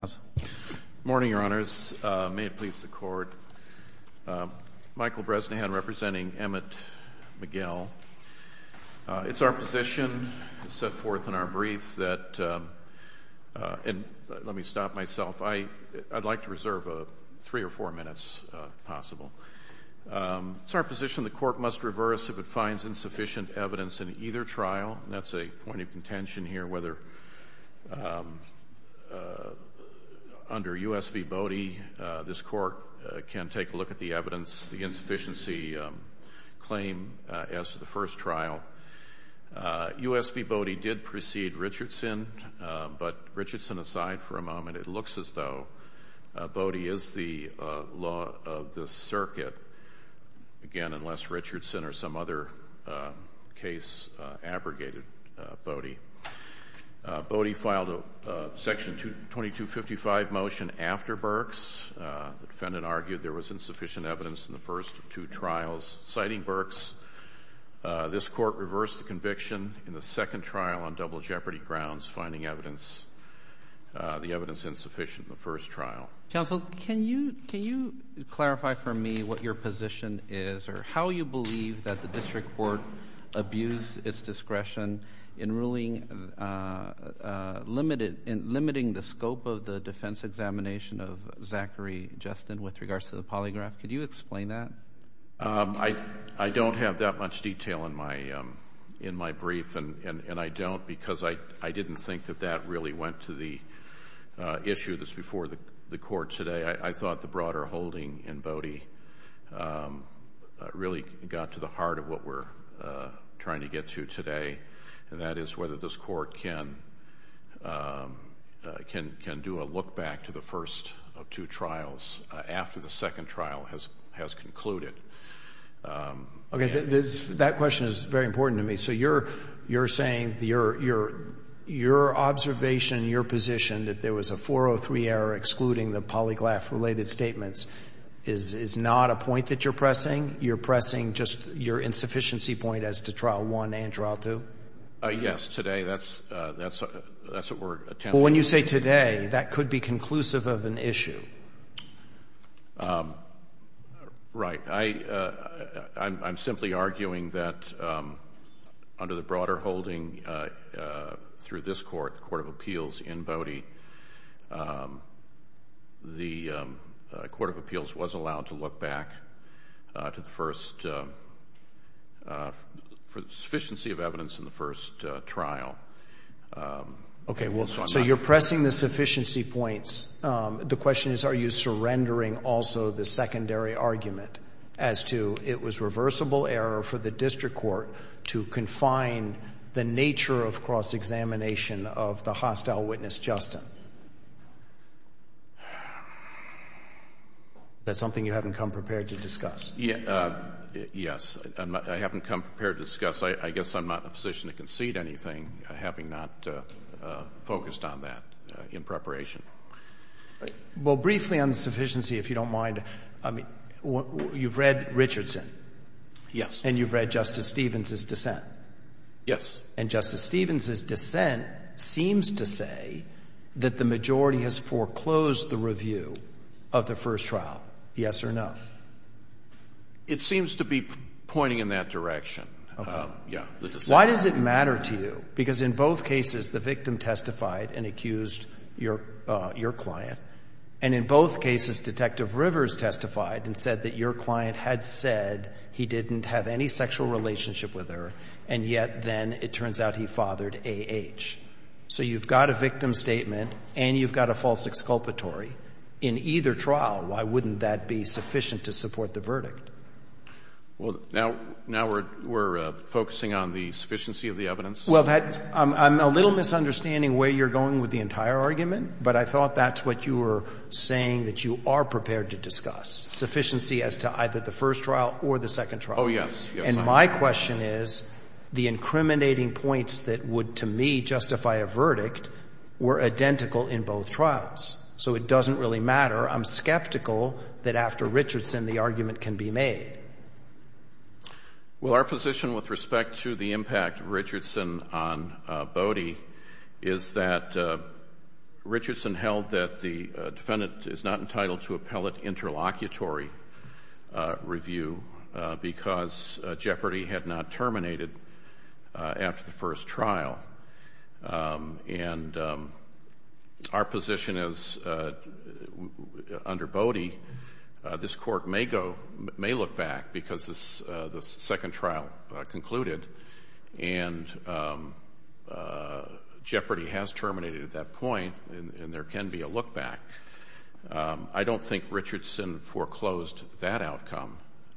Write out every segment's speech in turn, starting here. Good morning, Your Honors. May it please the Court, Michael Bresnahan representing Emmett Miguel. It's our position set forth in our brief that, and let me stop myself, I'd like to reserve three or four minutes possible. It's our position the Court must reverse if it finds insufficient evidence in either trial, and that's a point of contention here, whether under U.S. v. Bodie, this Court can take a look at the evidence, the insufficiency claim as to the first trial. U.S. v. Bodie did precede Richardson, but Richardson aside for a moment, it looks as though Bodie is the law of the circuit, again, unless Richardson or some other case abrogated Bodie. Bodie filed a section 2255 motion after Burks. The defendant argued there was insufficient evidence in the first two trials. Citing Burks, this Court reversed the conviction in the second trial on double jeopardy grounds, finding evidence, the evidence insufficient in the first trial. Counsel, can you clarify for me what your position is, or how you believe that the district court abused its discretion in ruling, in limiting the scope of the defense examination of Zachary Justin with regards to the polygraph? Could you explain that? I don't have that much detail in my brief, and I don't because I didn't think that that really went to the issue that's before the Court today. I thought the broader holding in Bodie really got to the heart of what we're trying to get to today, and that is whether this Court can do a look back to the first of two trials after the second trial has concluded. Okay. That question is very important to me. So you're saying, your observation, your position that there was a 403 error excluding the polygraph-related statements is not a point that you're pressing? You're pressing just your insufficiency point as to trial one and trial two? Yes. Today, that's a word. Well, when you say today, that could be conclusive of an issue. Right. I'm simply arguing that under the broader holding through this Court, the Court of Appeals in Bodie, the Court of Appeals was allowed to look back to the first, for the sufficiency of evidence in the first trial. Okay. Well, so you're pressing the sufficiency points. The question is, are you surrendering also the secondary argument as to it was reversible error for the district court to confine the nature of cross-examination of the hostile witness, Justin? Is that something you haven't come prepared to discuss? Yes. I haven't come prepared to discuss. I guess I'm not in a position to concede anything having not focused on that in preparation. Well, briefly on the sufficiency, if you don't mind, I mean, you've read Richardson. Yes. And you've read Justice Stevens' dissent. Yes. And Justice Stevens' dissent seems to say that the majority has foreclosed the review of the first trial, yes or no? It seems to be pointing in that direction. Okay. Yes, the dissent. Why does it matter to you? Because in both cases, the victim testified and accused your client. And in both cases, Detective Rivers testified and said that your client had said he didn't have any sexual relationship with her, and yet then it turns out he fathered A.H. So you've got a victim statement and you've got a false exculpatory. In either trial, why wouldn't that be sufficient to support the verdict? Well, now we're focusing on the sufficiency of the evidence. Well, I'm a little misunderstanding where you're going with the entire argument, but I thought that's what you were saying that you are prepared to discuss, sufficiency as to either the first trial or the second trial. Oh, yes. And my question is, the incriminating points that would, to me, justify a verdict were identical in both trials. So it doesn't really matter. I'm skeptical that after Richardson, the argument can be made. Well, our position with respect to the impact of Richardson on Bodie is that Richardson held that the defendant is not entitled to appellate interlocutory review because Jeopardy had not terminated after the first trial. And our position is, under Bodie, this Court may look back because the second trial concluded and Jeopardy has terminated at that point and there can be a look back. I don't think Richardson foreclosed that outcome.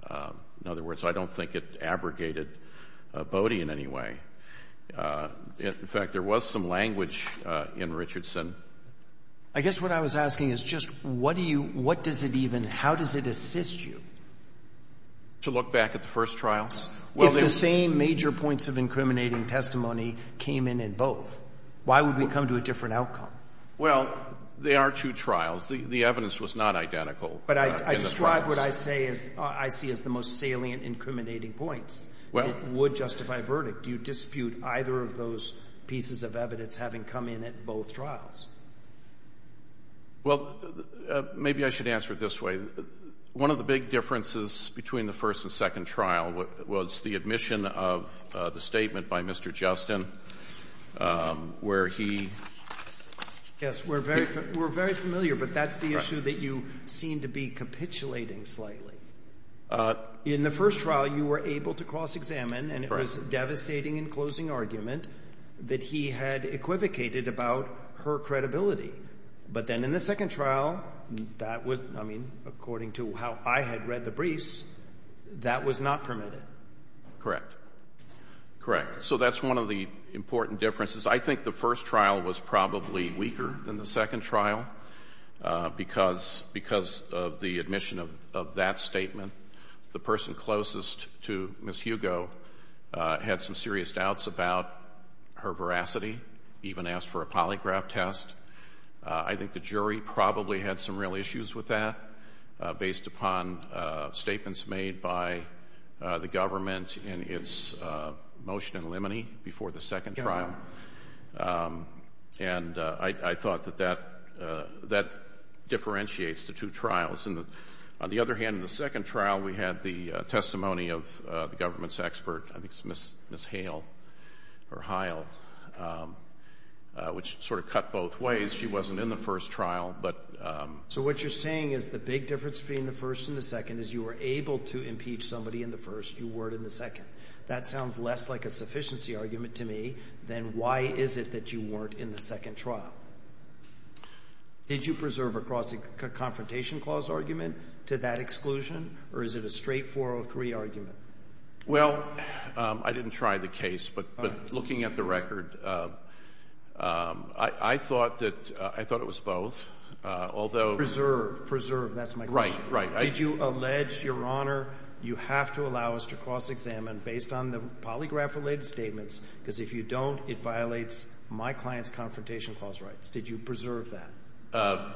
In other words, I don't think it abrogated Bodie in any way. In fact, there was some language in Richardson. I guess what I was asking is just what do you, what does it even, how does it assist you? To look back at the first trials? If the same major points of incriminating testimony came in in both, why would we come to a different outcome? Well, they are two trials. The evidence was not identical in the trials. But I describe what I say as, I see as the most salient incriminating points that would justify a verdict. Do you dispute either of those pieces of evidence having come in at both trials? Well, maybe I should answer it this way. One of the big differences between the first and second trial was the admission of the statement by Mr. Justin where he... Yes, we're very familiar, but that's the issue that you seem to be capitulating slightly. In the first trial, you were able to cross-examine and it was a devastating and closing argument that he had equivocated about her credibility. But then in the second trial, that was, I mean, according to how I had read the briefs, that was not permitted. Correct. Correct. So that's one of the important differences. I think the first trial was probably weaker than the second trial because of the admission of that statement. The person closest to Ms. Hugo had some serious doubts about her veracity, even asked for a polygraph test. I think the jury probably had some real issues with that based upon statements made by the government in its motion in limine before the second trial. And I thought that that differentiates the two trials. On the other hand, in the second trial, we had the testimony of the government's expert, I think it's Ms. Hale or Hile, which sort of cut both ways. She wasn't in the first trial, but... So what you're saying is the big difference between the first and the second is you were able to impeach somebody in the first, you weren't in the second. That sounds less like a sufficiency argument to me than why is it that you weren't in the second trial. Did you preserve a cross-confrontation clause argument to that exclusion, or is it a straight 403 argument? Well, I didn't try the case, but looking at the record, I thought that, I thought it was both, although... Preserve. Preserve. That's my question. Right. Right. Did you allege, Your Honor, you have to allow us to cross-examine based on the polygraph-related statements? Because if you don't, it violates my client's confrontation clause rights. Did you preserve that?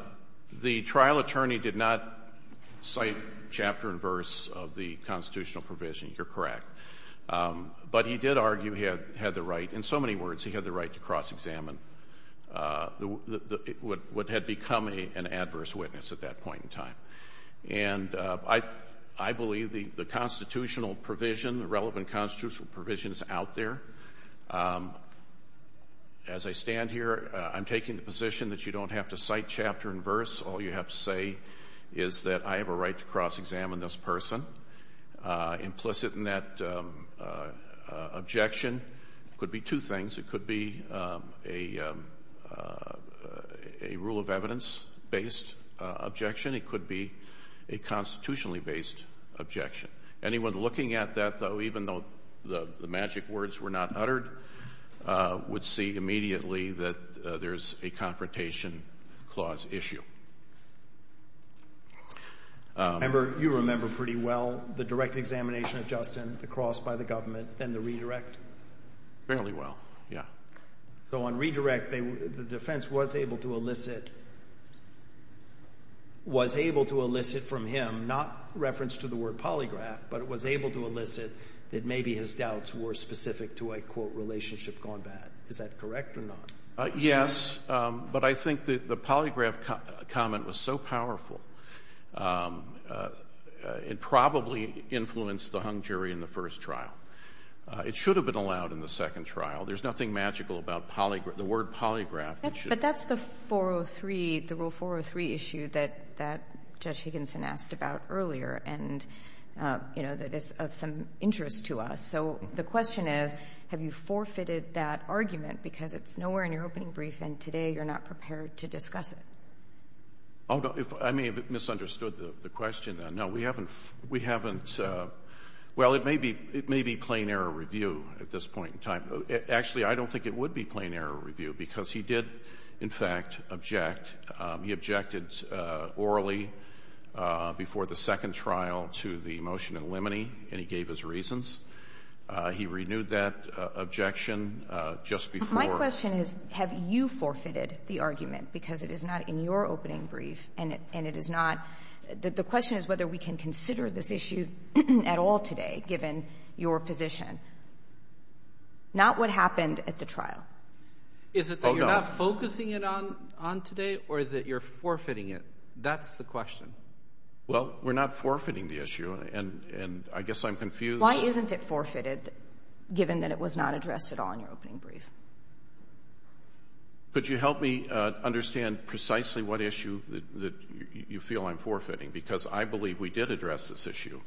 The trial attorney did not cite chapter and verse of the constitutional provision. You're correct. But he did argue he had the right, in so many words, he had the right to cross-examine what had become an adverse witness at that point in time. And I believe the constitutional provision, the relevant constitutional provision is out there. As I stand here, I'm taking the position that you don't have to cite chapter and verse. All you have to say is that I have a right to cross-examine this person. Implicit in that objection could be two things. It could be a rule of evidence-based objection. It could be a constitutionally-based objection. Anyone looking at that, though, even though the magic words were not uttered, would see immediately that there's a confrontation clause issue. Member, you remember pretty well the direct examination of Justin, the cross by the government, and the redirect? Fairly well, yeah. So on redirect, the defense was able to elicit from him, not reference to the word polygraph, but it was able to elicit that maybe his doubts were specific to, I quote, relationship gone bad. Is that correct or not? Yes, but I think the polygraph comment was so powerful, it probably influenced the hung jury in the first trial. It should have been allowed in the second trial. There's nothing magical about the word polygraph. But that's the 403, the Rule 403 issue that Judge Higginson asked about earlier and, you know, that is of some interest to us. So the question is, have you forfeited that argument because it's nowhere in your opening brief and today you're not prepared to discuss it? I may have misunderstood the question. No, we haven't. Well, it may be plain error review at this point in time. Actually, I don't think it would be plain error review because he did, in fact, object. He objected orally before the second trial to the motion in limine and he gave his reasons. He renewed that objection just before. My question is, have you forfeited the argument because it is not in your opening brief and it is not? The question is whether we can consider this issue at all today, given your position, not what happened at the trial. Is it that you're not focusing it on today or is it you're forfeiting it? That's the question. Well, we're not forfeiting the issue and I guess I'm confused. Why isn't it forfeited, given that it was not addressed at all in your opening brief? Could you help me understand precisely what issue that you feel I'm forfeiting? Because I believe we did address this issue.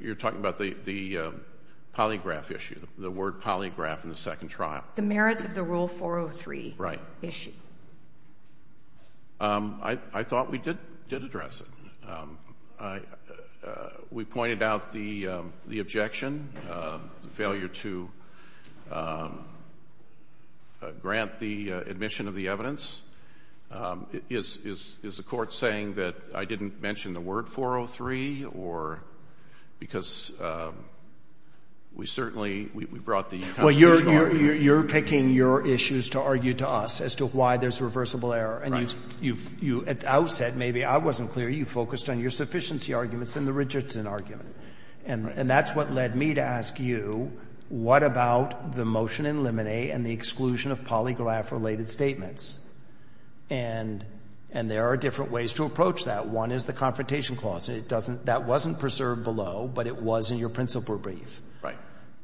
You're talking about the polygraph issue, the word polygraph in the second trial. The merits of the Rule 403 issue. Right. I thought we did address it. We pointed out the objection, the failure to grant the patent. I didn't mention the word 403 because we certainly brought the constitutional argument. You're picking your issues to argue to us as to why there's reversible error. At the outset, maybe I wasn't clear, you focused on your sufficiency arguments and the Richardson argument. That's what led me to ask you, what about the motion in Lemonet and the exclusion of polygraph-related statements? And there are different ways to approach that. One is the confrontation clause. That wasn't preserved below, but it was in your principal brief.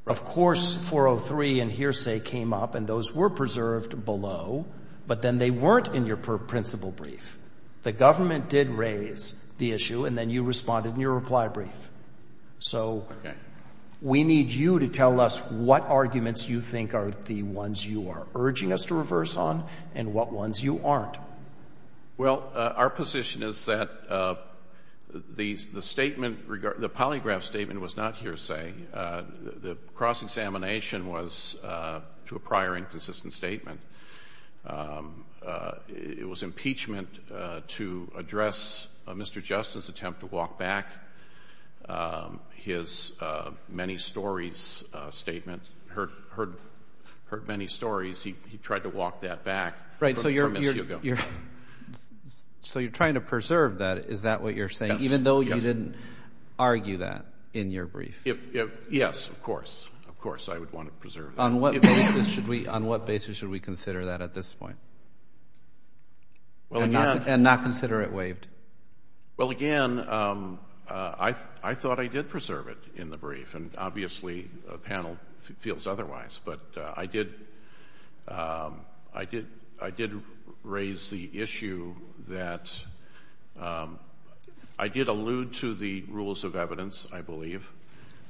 Of course, 403 and hearsay came up and those were preserved below, but then they weren't in your principal brief. The government did raise the issue and then you responded in your reply brief. So, we need you to tell us what arguments you think are the ones you are urging us to reverse on and what ones you aren't. Well, our position is that the statement, the polygraph statement was not hearsay. The cross-examination was to a prior inconsistent statement. It was impeachment to address Mr. Justin's attempt to walk back. His many stories statement, heard many stories, he tried to walk that back from Ms. Hugo. So you're trying to preserve that, is that what you're saying, even though you didn't argue that in your brief? Yes, of course. Of course, I would want to preserve that. On what basis should we consider that at this point? And not consider it waived? Well, again, I thought I did preserve it in the brief and obviously a panel feels otherwise, but I did raise the issue that I did allude to the rules of evidence, I believe.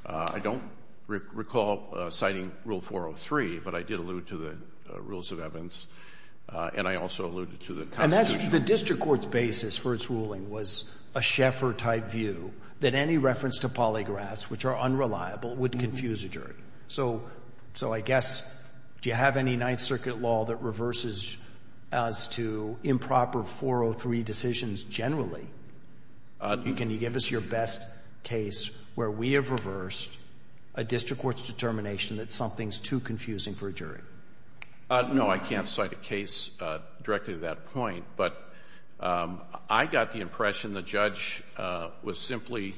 I don't recall citing Rule 403, but I did allude to the rules of evidence and I also alluded to the constitution. And that's the district court's basis for its ruling was a Schaeffer-type view that any reference to polygraphs, which are unreliable, would confuse a jury. So I guess, do you have any Ninth Circuit law that reverses as to improper 403 decisions generally? Can you give us your best case where we have reversed a district court's determination that something's too confusing for a jury? No, I can't cite a case directly to that point, but I got the impression the judge was simply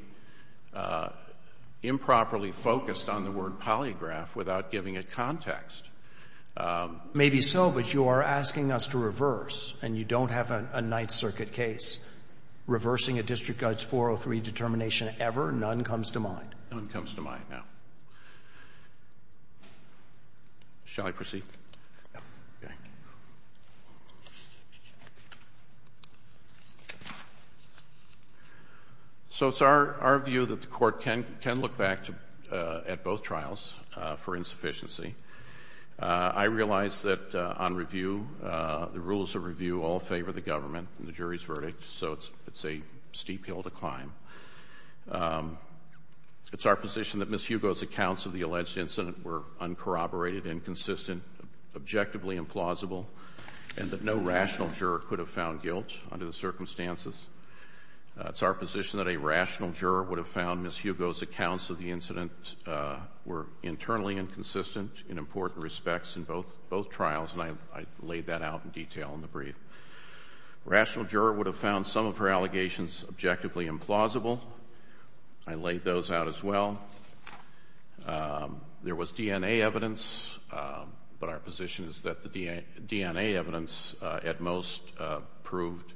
improperly focused on the word polygraph without giving it context. Maybe so, but you are asking us to reverse and you don't have a Ninth Circuit case. Reversing a district court's 403 determination ever, none comes to mind. None comes to mind, no. Shall I proceed? So it's our view that the court can look back at both trials for insufficiency. I realize that on review, the rules of review all favor the government and the jury's verdict, so it's a steep hill to climb. It's our position that Ms. Hugo's accounts of the alleged incident were uncorroborated, inconsistent, objectively implausible, and that no rational juror could have found guilt under the circumstances. It's our position that a rational juror would have found Ms. Hugo's accounts of the incident were internally inconsistent in important respects in both trials, and I laid that out in detail in the brief. Rational juror would have found some of her allegations objectively implausible. I laid those out as well. There was DNA evidence, but our position is that the DNA evidence at most proved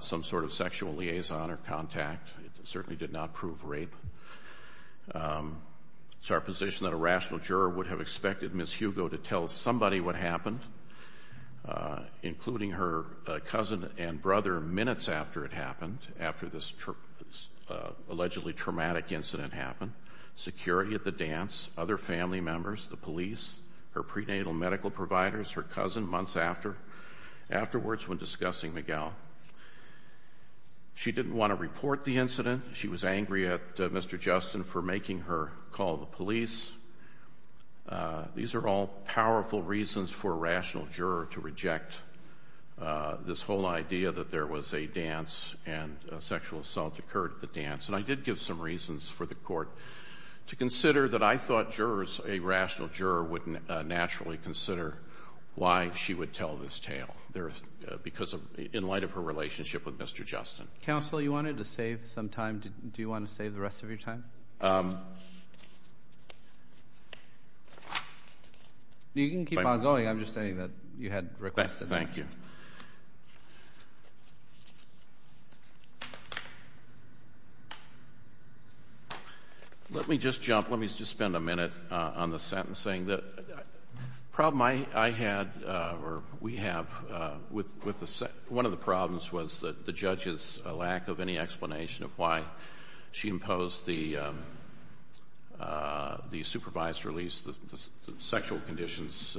some sort of sexual liaison or contact. It certainly did not prove rape. It's our position that a rational juror would have expected Ms. Hugo to tell somebody what happened, including her cousin and brother, minutes after it happened, after this allegedly traumatic incident happened. Security at the dance, other family members, the police, her prenatal medical providers, her cousin, months afterwards when discussing Miguel. She didn't want to report the incident. She was angry at Mr. Justin for making her call the police. These are all powerful reasons for a rational juror to reject this whole idea that there was a dance and a sexual assault occurred at the dance. And I did give some reasons for the Court to consider that I thought jurors, a rational juror, wouldn't naturally consider why she would tell this tale, because of, in light of her relationship with Mr. Justin. Counsel, you wanted to save some time. Do you want to save the rest of your time? You can keep on going. I'm just saying that you had requested that. Thank you. Let me just jump, let me just spend a minute on the sentencing. The problem I had, or we have, with the, one of the problems was the judge's lack of any explanation of why she imposed the supervised release, the sexual conditions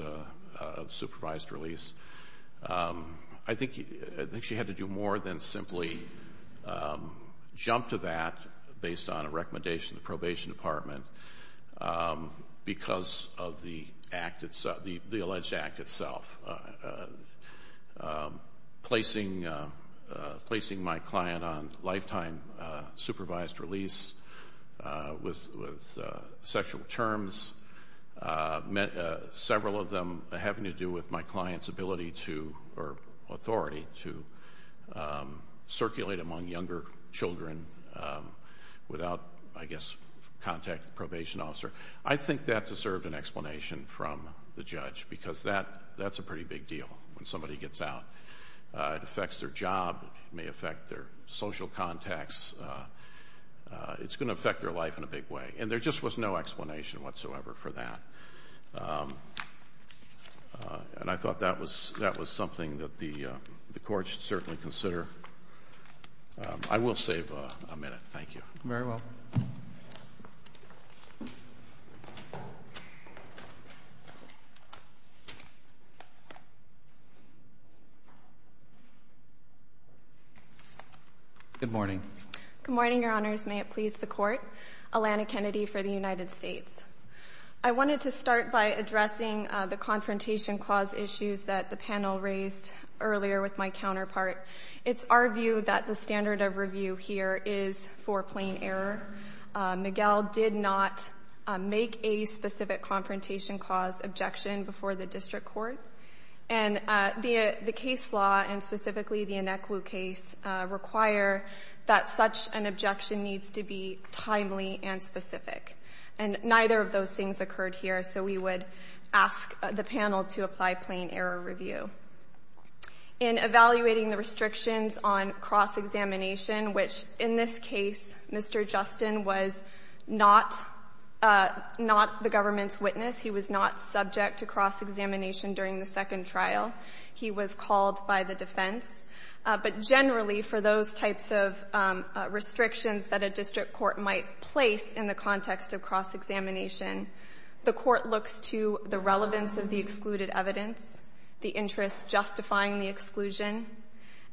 of supervised release. And the I think she had to do more than simply jump to that based on a recommendation of the probation department because of the act itself, the alleged act itself. Placing my client on lifetime supervised release with sexual terms meant several of them having to do with my client's ability to, or authority to circulate among younger children without, I guess, contact the probation officer. I think that deserved an explanation from the judge because that's a pretty big deal when somebody gets out. It affects their job. It may affect their social contacts. It's going to affect their life in a big way. And there just was no explanation whatsoever for that. And I thought that was something that the court should certainly consider. I will save a minute. Thank you. Very well. Good morning. Good morning, Your Honors. May it please the Court. Alana Kennedy for the United States. I wanted to start by addressing the Confrontation Clause issues that the panel raised earlier with my counterpart. It's our view that the standard of review here is for plain error. Miguel did not make a specific Confrontation Clause objection before the district court. And the case law, and specifically the Anekwu case, require that such an objection needs to be timely and specific. And neither of those things occurred here. So we would ask the panel to apply plain error review. In evaluating the restrictions on cross-examination, which in this case, Mr. Justin was not the government's witness. He was not subject to cross-examination during the second trial. He was called by the defense. But generally, for those types of restrictions that a district court might place in the context of cross-examination, the court looks to the relevance of the excluded evidence, the interest justifying the exclusion,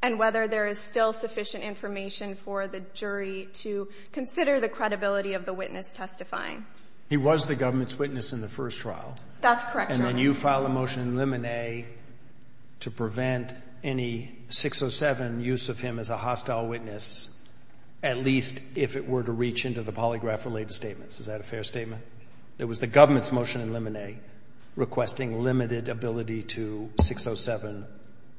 and whether there is still sufficient information for the jury to consider the credibility of the witness testifying. He was the government's witness in the first trial. That's correct, Your Honor. And then you file a motion in limine to prevent any 607 use of him as a hostile witness, at least if it were to reach into the polygraph-related statements. Is that a fair statement? It was the government's motion in limine requesting limited ability to 607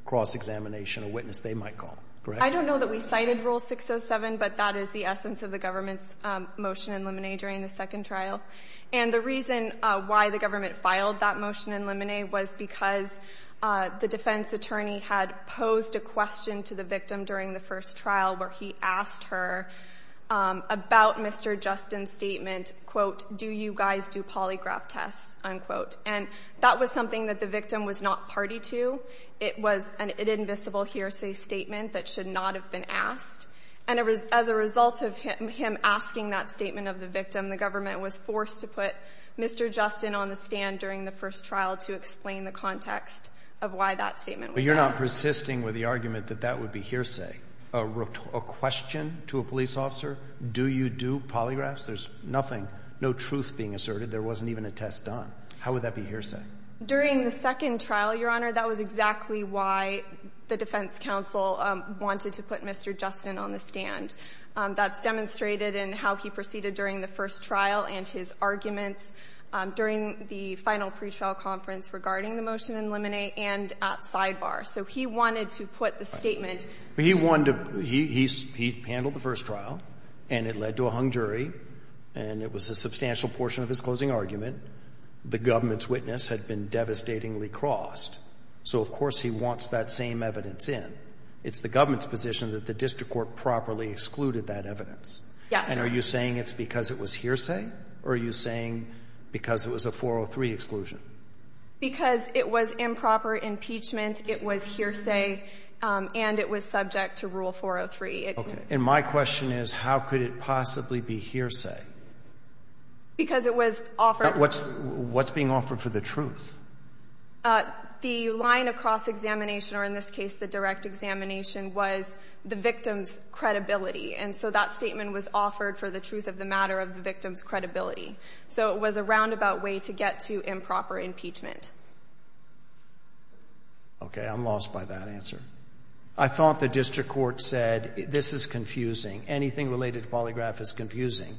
cross-examination, a witness they might call, correct? I don't know that we cited Rule 607, but that is the essence of the government's motion in limine during the second trial. And the reason why the government filed that motion in limine was because the defense attorney had posed a question to the victim during the first trial where he asked her about Mr. Justin's statement, quote, do you guys do polygraph tests, unquote. And that was something that the victim was not party to. It was an invisible hearsay statement that should not have been asked. And as a result of him asking that statement of the victim, the government was forced to put Mr. Justin on the stand during the first trial to explain the context of why that statement was asked. But you're not persisting with the argument that that would be hearsay. A question to a police officer, do you do polygraphs? There's nothing, no truth being asserted. There wasn't even a test done. How would that be hearsay? During the second trial, Your Honor, that was exactly why the defense counsel wanted to put Mr. Justin on the stand. That's demonstrated in how he proceeded during the first trial and his arguments during the final pretrial conference regarding the motion in limine and at sidebar. So he wanted to put the statement. But he wanted to, he handled the first trial, and it led to a hung jury, and it was a substantial portion of his closing argument. The government's witness had been devastatingly crossed. So of course he wants that same evidence in. It's the government's position that the district court properly excluded that evidence. Yes. And are you saying it's because it was hearsay? Or are you saying because it was a 403 exclusion? Because it was improper impeachment, it was hearsay, and it was subject to Rule 403. Okay. And my question is, how could it possibly be hearsay? Because it was offered. What's being offered for the truth? The line of cross-examination, or in this case, the direct examination, was the victim's credibility. And so that statement was offered for the truth of the matter of the victim's credibility. So it was a roundabout way to get to improper impeachment. Okay. I'm lost by that answer. I thought the district court said, this is confusing. Anything related to polygraph is confusing.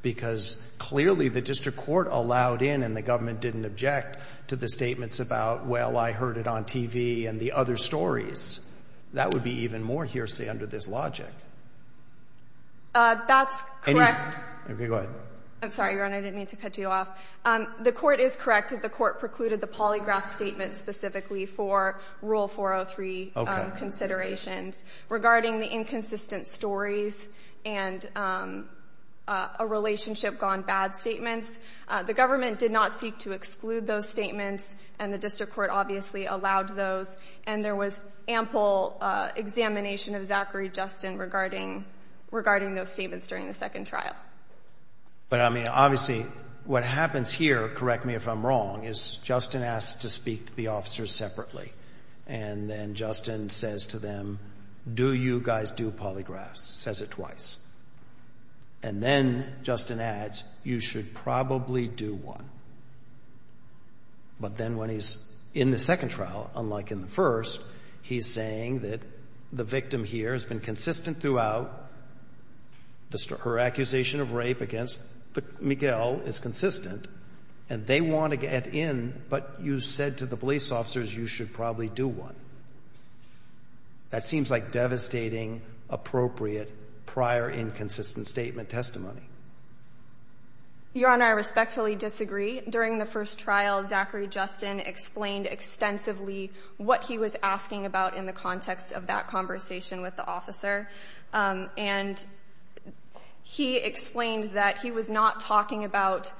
Because clearly the district court allowed in, and the government didn't object to the statements about, well, I heard it on TV and the other stories. That would be even more hearsay under this logic. That's correct. Okay, go ahead. I'm sorry, Your Honor, I didn't mean to cut you off. The court is correct that the court precluded the polygraph statement specifically for Rule 403 considerations. Regarding the inconsistent stories and a relationship gone bad statements, the government did not seek to exclude those statements, and the district court obviously allowed those. And there was ample examination of Zachary Justin regarding those statements during the second trial. But I mean, obviously, what happens here, correct me if I'm wrong, is Justin asks to speak to the officers separately. And then Justin says to them, do you guys do polygraphs? Says it twice. And then Justin adds, you should probably do one. But then when he's in the second trial, unlike in the first, he's saying that the victim here has been consistent throughout. Her accusation of rape against Miguel is consistent, and they want to get in. But you said to the police officers, you should probably do one. That seems like devastating, appropriate, prior inconsistent statement testimony. Your Honor, I respectfully disagree. During the first trial, Zachary Justin explained extensively what he was asking about in the context of that conversation with the officer. And he explained that he was not talking about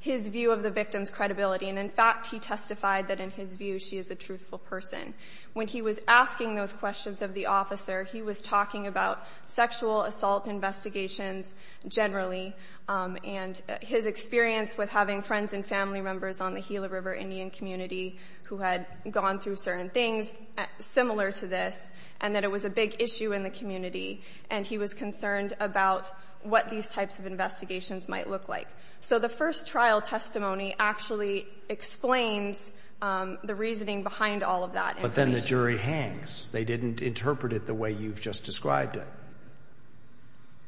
his view of the victim's credibility. And in fact, he testified that in his view, she is a truthful person. When he was asking those questions of the officer, he was talking about sexual assault investigations generally, and his experience with having friends and family members on the Gila River Indian community who had gone through certain things similar to this, and that it was a big issue in the community. And he was concerned about what these types of investigations might look like. So the first trial testimony actually explains the reasoning behind all of that. But then the jury hangs. They didn't interpret it the way you've just described it.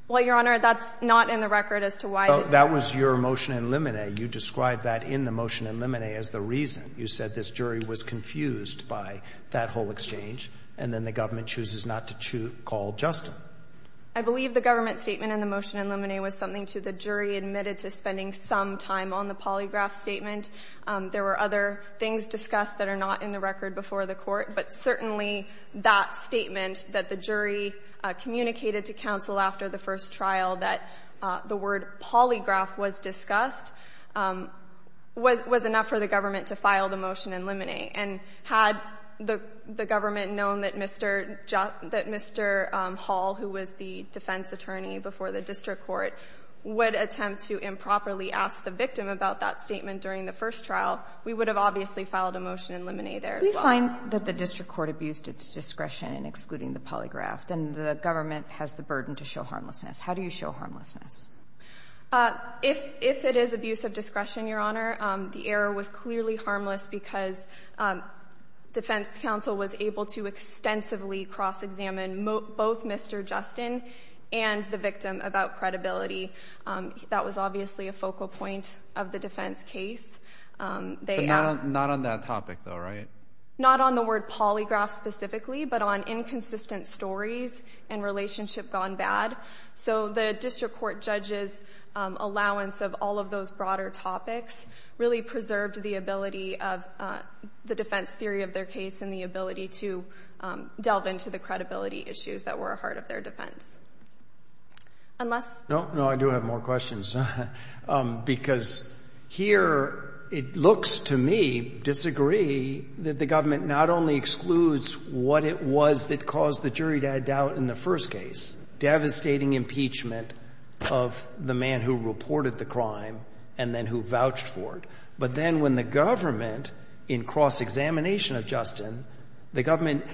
Well, Your Honor, that's not in the record as to why. That was your motion in limine. You described that in the motion in limine as the reason. You said this jury was confused by that whole exchange, and then the government chooses not to call Justin. I believe the government statement in the motion in limine was something to the jury admitted to spending some time on the polygraph statement. There were other things discussed that are not in the record before the court, but certainly that statement that the jury communicated to counsel after the first trial that the word polygraph was discussed was enough for the government to file the motion in limine. And had the government known that Mr. Hall, who was the defense attorney before the district court, would attempt to improperly ask the victim about that statement during the first trial, we would have obviously filed a motion in limine there as well. We find that the district court abused its discretion in excluding the polygraph, and the government has the burden to show harmlessness. How do you show harmlessness? If it is abuse of discretion, Your Honor, the error was clearly harmless because defense counsel was able to extensively cross-examine both Mr. Justin and the victim about credibility. That was obviously a focal point of the defense case. But not on that topic though, right? Not on the word polygraph specifically, but on inconsistent stories and relationship gone bad. So the district court judge's allowance of all of those broader topics really preserved the ability of the defense theory of their case and the ability to delve into the credibility issues that were a heart of their defense. Unless... No, I do have more questions. Because here it looks to me, disagree, that the government not only excludes what it was that caused the jury to have doubt in the first case, devastating impeachment of the man who reported the crime and then who vouched for it, but then when the government, in cross-examination of Justin, the government,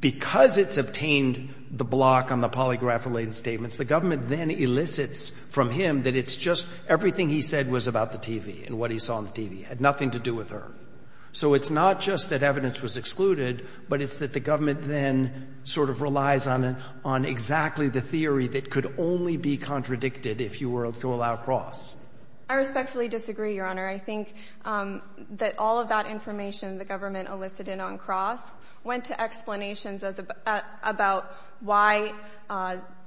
because it's attained the block on the polygraph-related statements, the government then elicits from him that it's just everything he said was about the TV and what he saw on the TV. It had nothing to do with her. So it's not just that evidence was excluded, but it's that the government then sort of relies on exactly the theory that could only be contradicted if you were to allow cross. I respectfully disagree, Your Honor. I think that all of that information the government elicited on cross went to explanations about why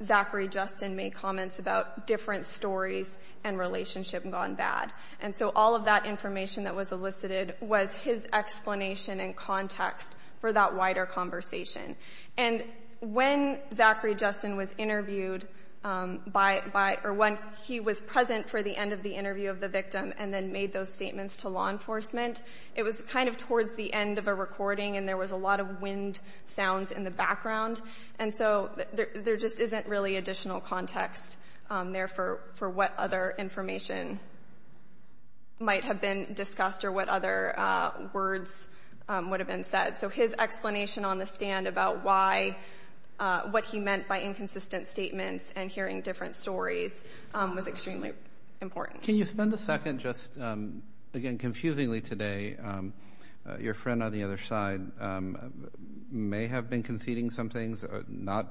Zachary Justin made comments about different stories and relationship gone bad. And so all of that information that was elicited was his explanation and context for that wider conversation. And when Zachary Justin was interviewed by... Or when he was present for the end of the interview of the victim and then made those statements to law enforcement, it was kind of towards the end of a recording and there was a lot of wind sounds in the background. And so there just isn't really additional context there for what other information might have been discussed or what other words would have been said. So his explanation on the stand about why... What he meant by inconsistent statements and hearing different stories was extremely important. Can you spend a second just... Again, confusingly today, your friend on the other side may have been conceding some things, not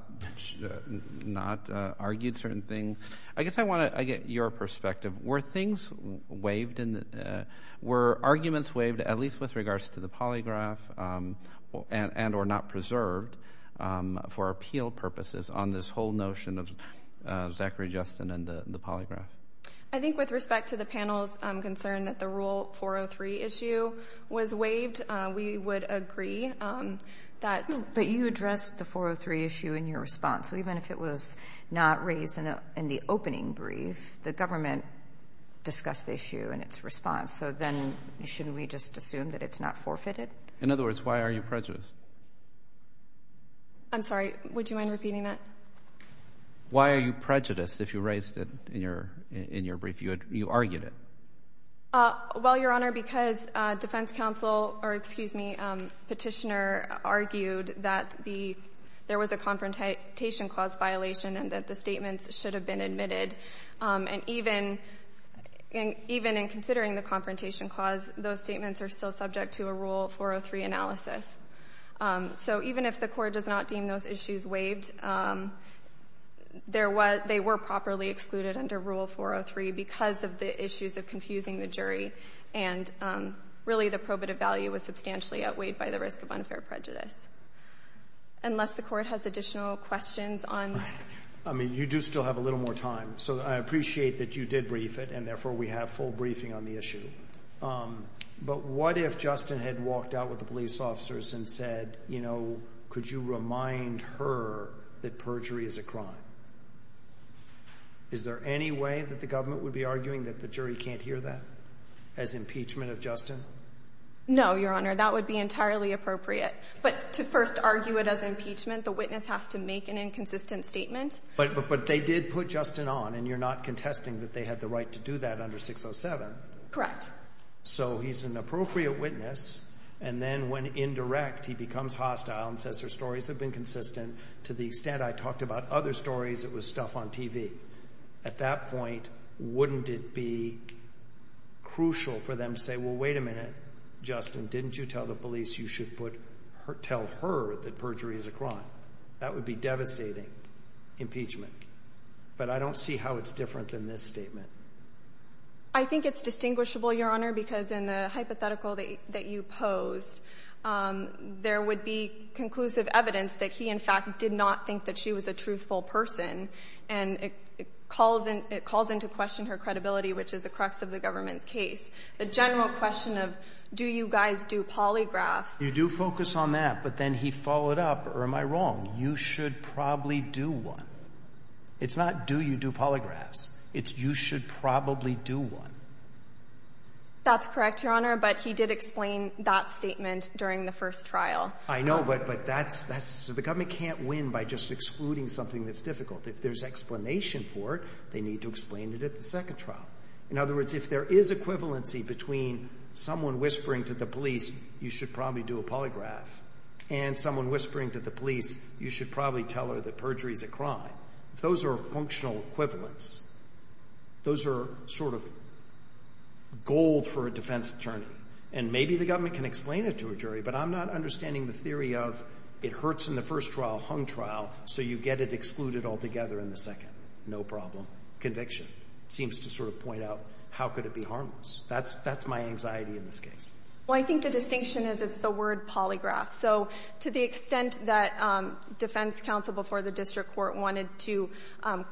argued certain things. I guess I want to get your perspective. Were things waived? Were arguments waived at least with regards to the polygraph and or not preserved for appeal purposes on this whole notion of Zachary Justin and the polygraph? I think with respect to the panel's concern that the Rule 403 issue was waived, we would agree that... But you addressed the 403 issue in your response. So even if it was not raised in the opening brief, the government discussed the issue in its response. So then shouldn't we just assume that it's not forfeited? In other words, why are you prejudiced? I'm sorry, would you mind repeating that? Why are you prejudiced if you raised it in your brief? You argued it. Well, Your Honor, because defense counsel... Or excuse me, petitioner argued that there was a confrontation clause violation and that the statements should have been admitted. And even in considering the confrontation clause, those statements are still subject to a Rule 403 analysis. So even if the court does not deem those issues waived, they were properly excluded under Rule 403 because of the issues of confusing the jury. And really the probative value was substantially outweighed by the risk of unfair prejudice. Unless the court has additional questions on... I mean, you do still have a little more time. So I appreciate that you did brief it, and therefore we have full briefing on the issue. But what if Justin had walked out with the police officers and said, you know, could you remind her that perjury is a crime? Is there any way that the government would be arguing that the jury can't hear that as impeachment of Justin? No, Your Honor. That would be entirely appropriate. But to first argue it as impeachment, the witness has to make an inconsistent statement. But they did put Justin on, and you're not contesting that they had the right to do that under 607. So he's an appropriate witness. And then when indirect, he becomes hostile and says her stories have been consistent. To the extent I talked about other stories, it was stuff on TV. At that point, wouldn't it be crucial for them to say, well, wait a minute, Justin, didn't you tell the police you should tell her that perjury is a crime? That would be devastating impeachment. But I don't see how it's different than this statement. I think it's distinguishable, Your Honor, because in the hypothetical that you posed, there would be conclusive evidence that he, in fact, did not think that she was a truthful person. And it calls into question her credibility, which is the crux of the government's case. The general question of, do you guys do polygraphs? You do focus on that, but then he followed up, am I wrong? You should probably do one. It's not, do you do polygraphs? It's, you should probably do one. That's correct, Your Honor, but he did explain that statement during the first trial. I know, but the government can't win by just excluding something that's difficult. If there's explanation for it, they need to explain it at the second trial. In other words, if there is equivalency between someone whispering to the police, you should probably do a polygraph, and someone whispering to the police, you should probably tell her that perjury is a crime. If those are functional equivalents, those are sort of gold for a defense attorney. And maybe the government can explain it to a jury, but I'm not understanding the theory of it hurts in the first trial, hung trial, so you get it excluded altogether in the second. No problem. Conviction seems to sort of point out, how could it be harmless? That's my anxiety in this case. Well, I think the distinction is it's the word polygraph, so to the extent that defense counsel before the district court wanted to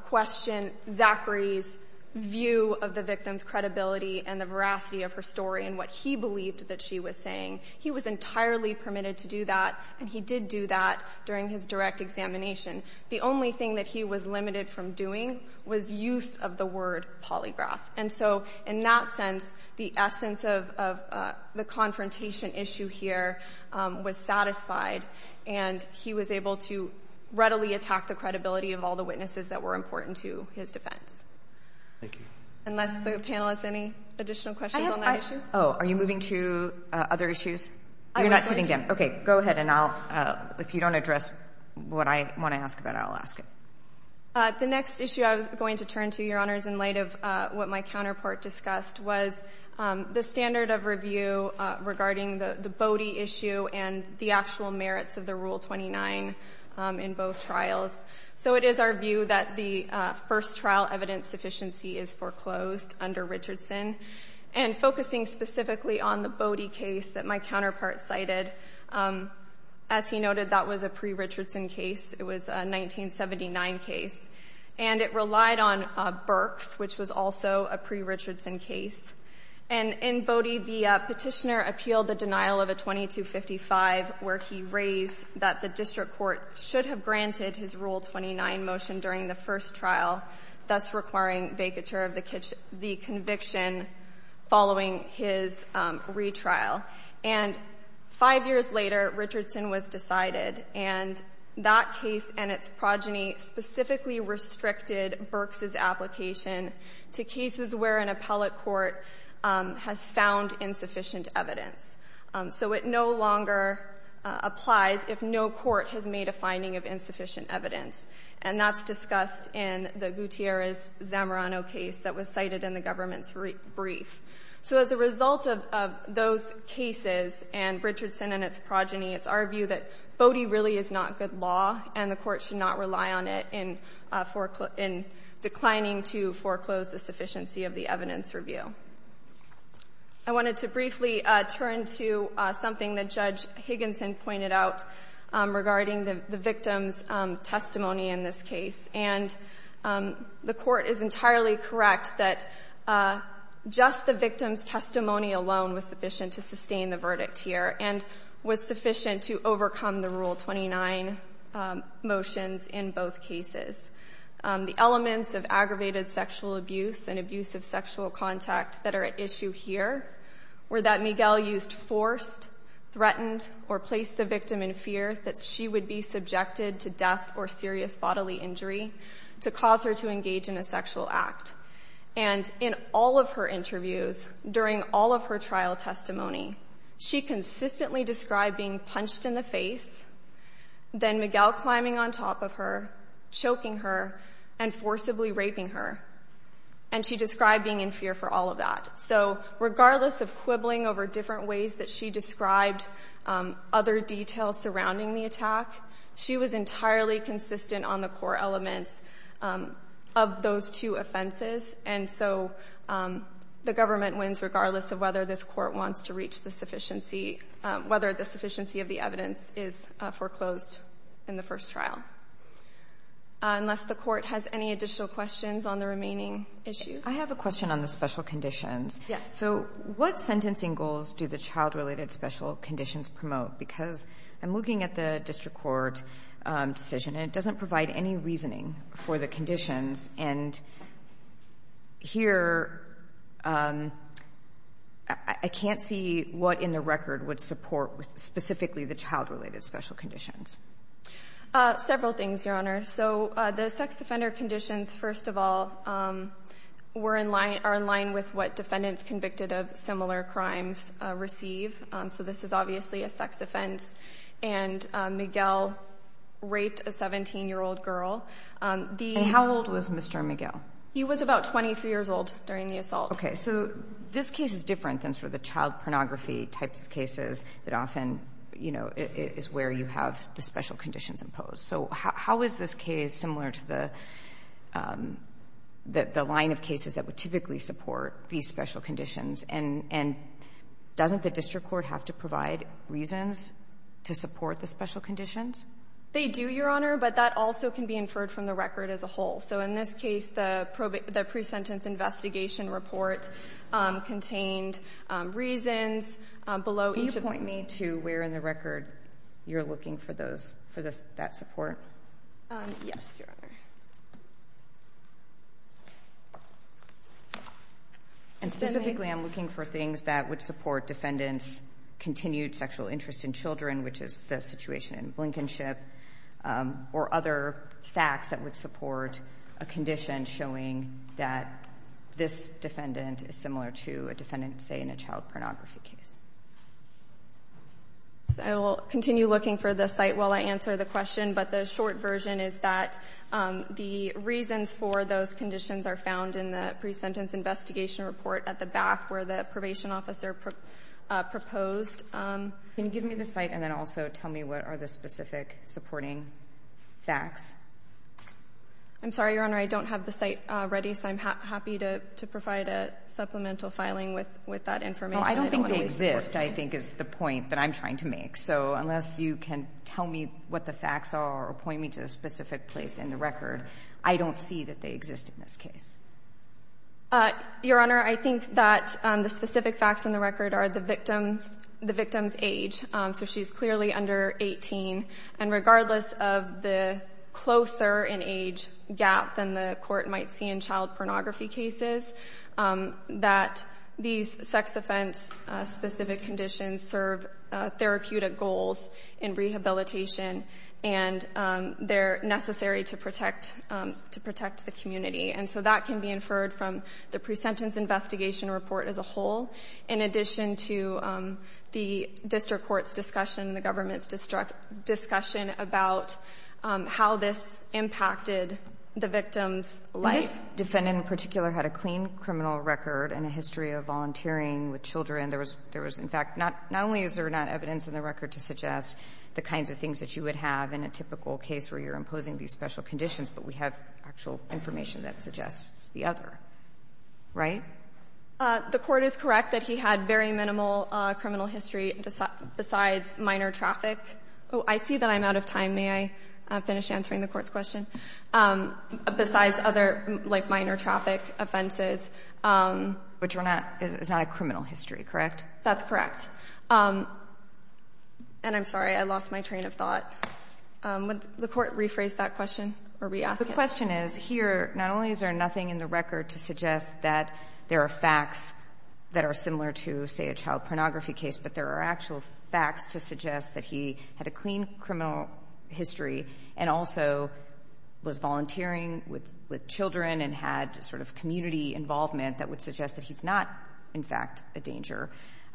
question Zachary's view of the victim's credibility and the veracity of her story and what he believed that she was saying, he was entirely permitted to do that, and he did do that during his direct examination. The only thing that he was limited from doing was use of the word polygraph. And so, in that sense, the essence of the confrontation issue here was satisfied, and he was able to readily attack the credibility of all the witnesses that were important to his defense. Thank you. Unless the panel has any additional questions on that issue? Oh, are you moving to other issues? You're not sitting down. Okay, go ahead, and I'll, if you don't address what I want to ask about, I'll ask it. The next issue I was going to turn to, Your Honors, in light of what my counterpart discussed was the standard of review regarding the Bodie issue and the actual merits of the Rule 29 in both trials. So it is our view that the first trial evidence sufficiency is foreclosed under Richardson, and focusing specifically on the Bodie case that my counterpart cited. As he noted, that was a pre-Richardson case. It was a 1979 case, and it relied on Burks, which was also a pre-Richardson case. And in Bodie, the petitioner appealed the denial of a 2255, where he raised that the district court should have granted his Rule 29 motion during the first trial, thus requiring vacatur of the conviction following his retrial. And five years later, Richardson was decided, and that case and its progeny specifically restricted Burks' application to cases where an appellate court has found insufficient evidence. So it no longer applies if no court has made a finding of insufficient evidence. And that's discussed in the Gutierrez-Zamorano case that was cited in the government's brief. So as a result of those cases, and Richardson and its progeny, it's our view that Bodie really is not good law, and the court should not rely on it in declining to foreclose the sufficiency of the evidence review. I wanted to briefly turn to something that Judge Higginson pointed out regarding the victim's testimony in this case. And the court is entirely correct that just the victim's testimony alone was sufficient to sustain the verdict here and was sufficient to overcome the Rule 29 motions in both cases. The elements of aggravated sexual abuse and abuse of sexual contact that are at issue here were that Miguel used forced, threatened, or placed the victim in fear that she would be subjected to death or serious bodily injury to cause her to engage in a sexual act. And in all of her interviews, during all of her trial testimony, she consistently described being punched in the face, then Miguel climbing on top of her, choking her, and forcibly raping her. And she described being in fear for all of that. So regardless of quibbling over different ways that she described other details surrounding the attack, she was entirely consistent on the core elements of those two offenses. And so the government wins regardless of whether this court wants to reach the sufficiency, whether the sufficiency of the evidence is foreclosed in the first trial. Unless the court has any additional questions on the remaining issues. I have a question on the special conditions. So what sentencing goals do the child-related special conditions promote? Because I'm looking at the district court decision, and it doesn't provide any reasoning for the conditions. And here, I can't see what in the record would support specifically the child-related special conditions. Several things, Your Honor. So the sex offender conditions, first of all, are in line with what defendants convicted of similar crimes receive. So this is obviously a sex offense. And Miguel raped a 17-year-old girl. And how old was Mr. Miguel? He was about 23 years old during the assault. Okay. So this case is different than sort of the child pornography types of cases that often, you know, is where you have the special conditions imposed. So how is this case similar to the line of cases that would typically support these special conditions? And doesn't the district court have to provide reasons to support the special conditions? They do, Your Honor, but that also can be inferred from the record as a whole. So in this case, the pre-sentence investigation report contained reasons below each of the two, where in the record you're looking for those, for that support? Yes, Your Honor. And specifically, I'm looking for things that would support defendants' continued sexual interest in children, which is the situation in Blinkenship, or other facts that would support a condition showing that this defendant is similar to a defendant, say, in a child pornography case. I will continue looking for the site while I answer the question, but the short version is that the reasons for those conditions are found in the pre-sentence investigation report at the back, where the probation officer proposed. Can you give me the site and then also tell me what are the specific supporting facts? I'm sorry, Your Honor, I don't have the site ready, so I'm happy to provide a supplemental filing with that information. No, I don't think they exist, I think, is the point that I'm trying to make. So unless you can tell me what the facts are or point me to a specific place in the record, I don't see that they exist in this case. Your Honor, I think that the specific facts in the record are the victim's age. So she's clearly under 18. And regardless of the closer in age gap than the court might see in child sex offense, specific conditions serve therapeutic goals in rehabilitation, and they're necessary to protect the community. And so that can be inferred from the pre-sentence investigation report as a whole, in addition to the district court's discussion, the government's discussion about how this impacted the victim's life. But if a defendant in particular had a clean criminal record and a history of volunteering with children, there was, in fact, not only is there not evidence in the record to suggest the kinds of things that you would have in a typical case where you're imposing these special conditions, but we have actual information that suggests the other. Right? The Court is correct that he had very minimal criminal history besides minor traffic. I see that I'm out of time. May I finish answering the Court's question? Besides other, like, minor traffic offenses. Which is not a criminal history, correct? That's correct. And I'm sorry, I lost my train of thought. Would the Court rephrase that question? The question is, here, not only is there nothing in the record to suggest that there are facts that are similar to, say, a child pornography case, but there are actual facts to suggest that he had a clean criminal history and also was volunteering with children and had sort of community involvement that would suggest that he's not, in fact, a danger.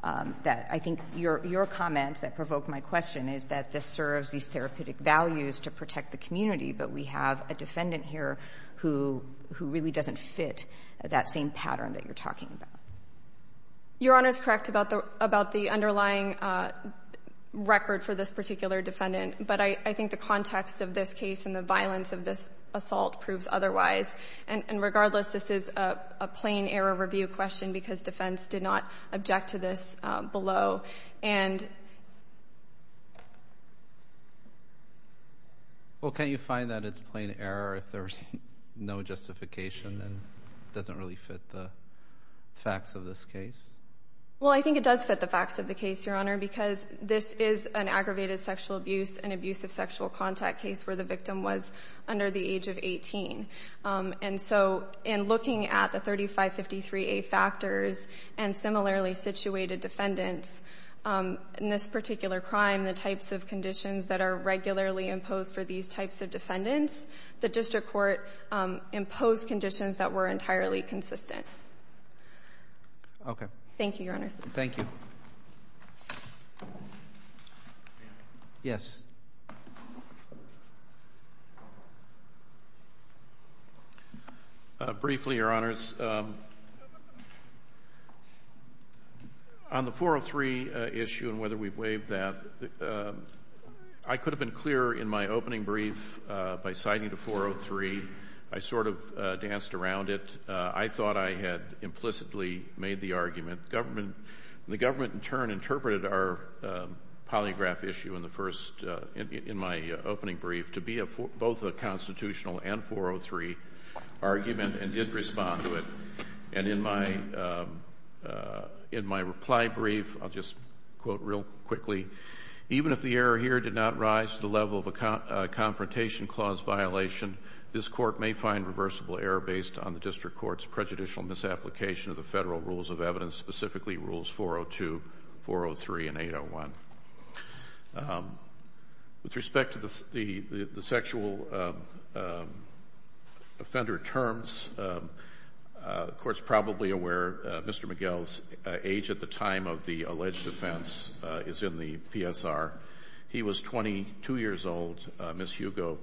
I think your comment that provoked my question is that this serves these therapeutic values to protect the community, but we have a defendant here who really doesn't fit that same pattern that you're talking about. Your Honor is correct about the underlying record for this particular defendant, but I think the context of this case and the violence of this assault proves otherwise. And regardless, this is a plain error review question because defense did not object to this below. And Well, can't you find that it's plain error if there's no justification and it doesn't really fit the facts of this case? Well, I think it does fit the facts of the case, Your Honor, because this is an aggravated sexual abuse and abusive sexual contact case where the victim was under the age of 18. And so in looking at the 3553A factors and similarly situated defendants, in this particular crime, the types of conditions that are regularly imposed for these types of defendants, the court imposed conditions that were entirely consistent. Okay. Thank you, Your Honors. Thank you. Yes. Briefly, Your Honors, on the 403 issue and whether we've waived that, I could have been clearer in my opening brief by citing the 403. I sort of danced around it. I thought I had implicitly made the argument. The government in turn interpreted our polygraph issue in the first, in my opening brief, to be both a constitutional and 403 argument and did respond to it. And in my reply brief, I'll just quote real quickly, even if the error here did not rise to the level of a Confrontation Clause violation, this Court may find reversible error based on the District Court's prejudicial misapplication of the Federal Rules of Evidence, specifically Rules 402, 403, and 801. With respect to the sexual offender terms, the Court's probably aware Mr. McGill's age at the time of the alleged offense is in the PSR. He was 22 years old. Ms. Hugo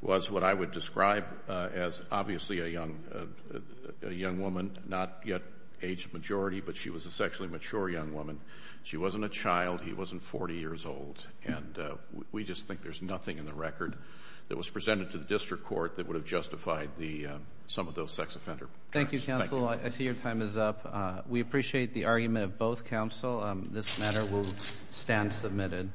was what I would describe as obviously a young woman, not yet aged majority, but she was a sexually mature young woman. She wasn't a child. He wasn't 40 years old. And we just think there's nothing in the record that was presented to the District Court that would have justified some of those sex offender terms. Thank you, counsel. I see your time is up. We appreciate the argument of both counsel. This matter will stand submitted.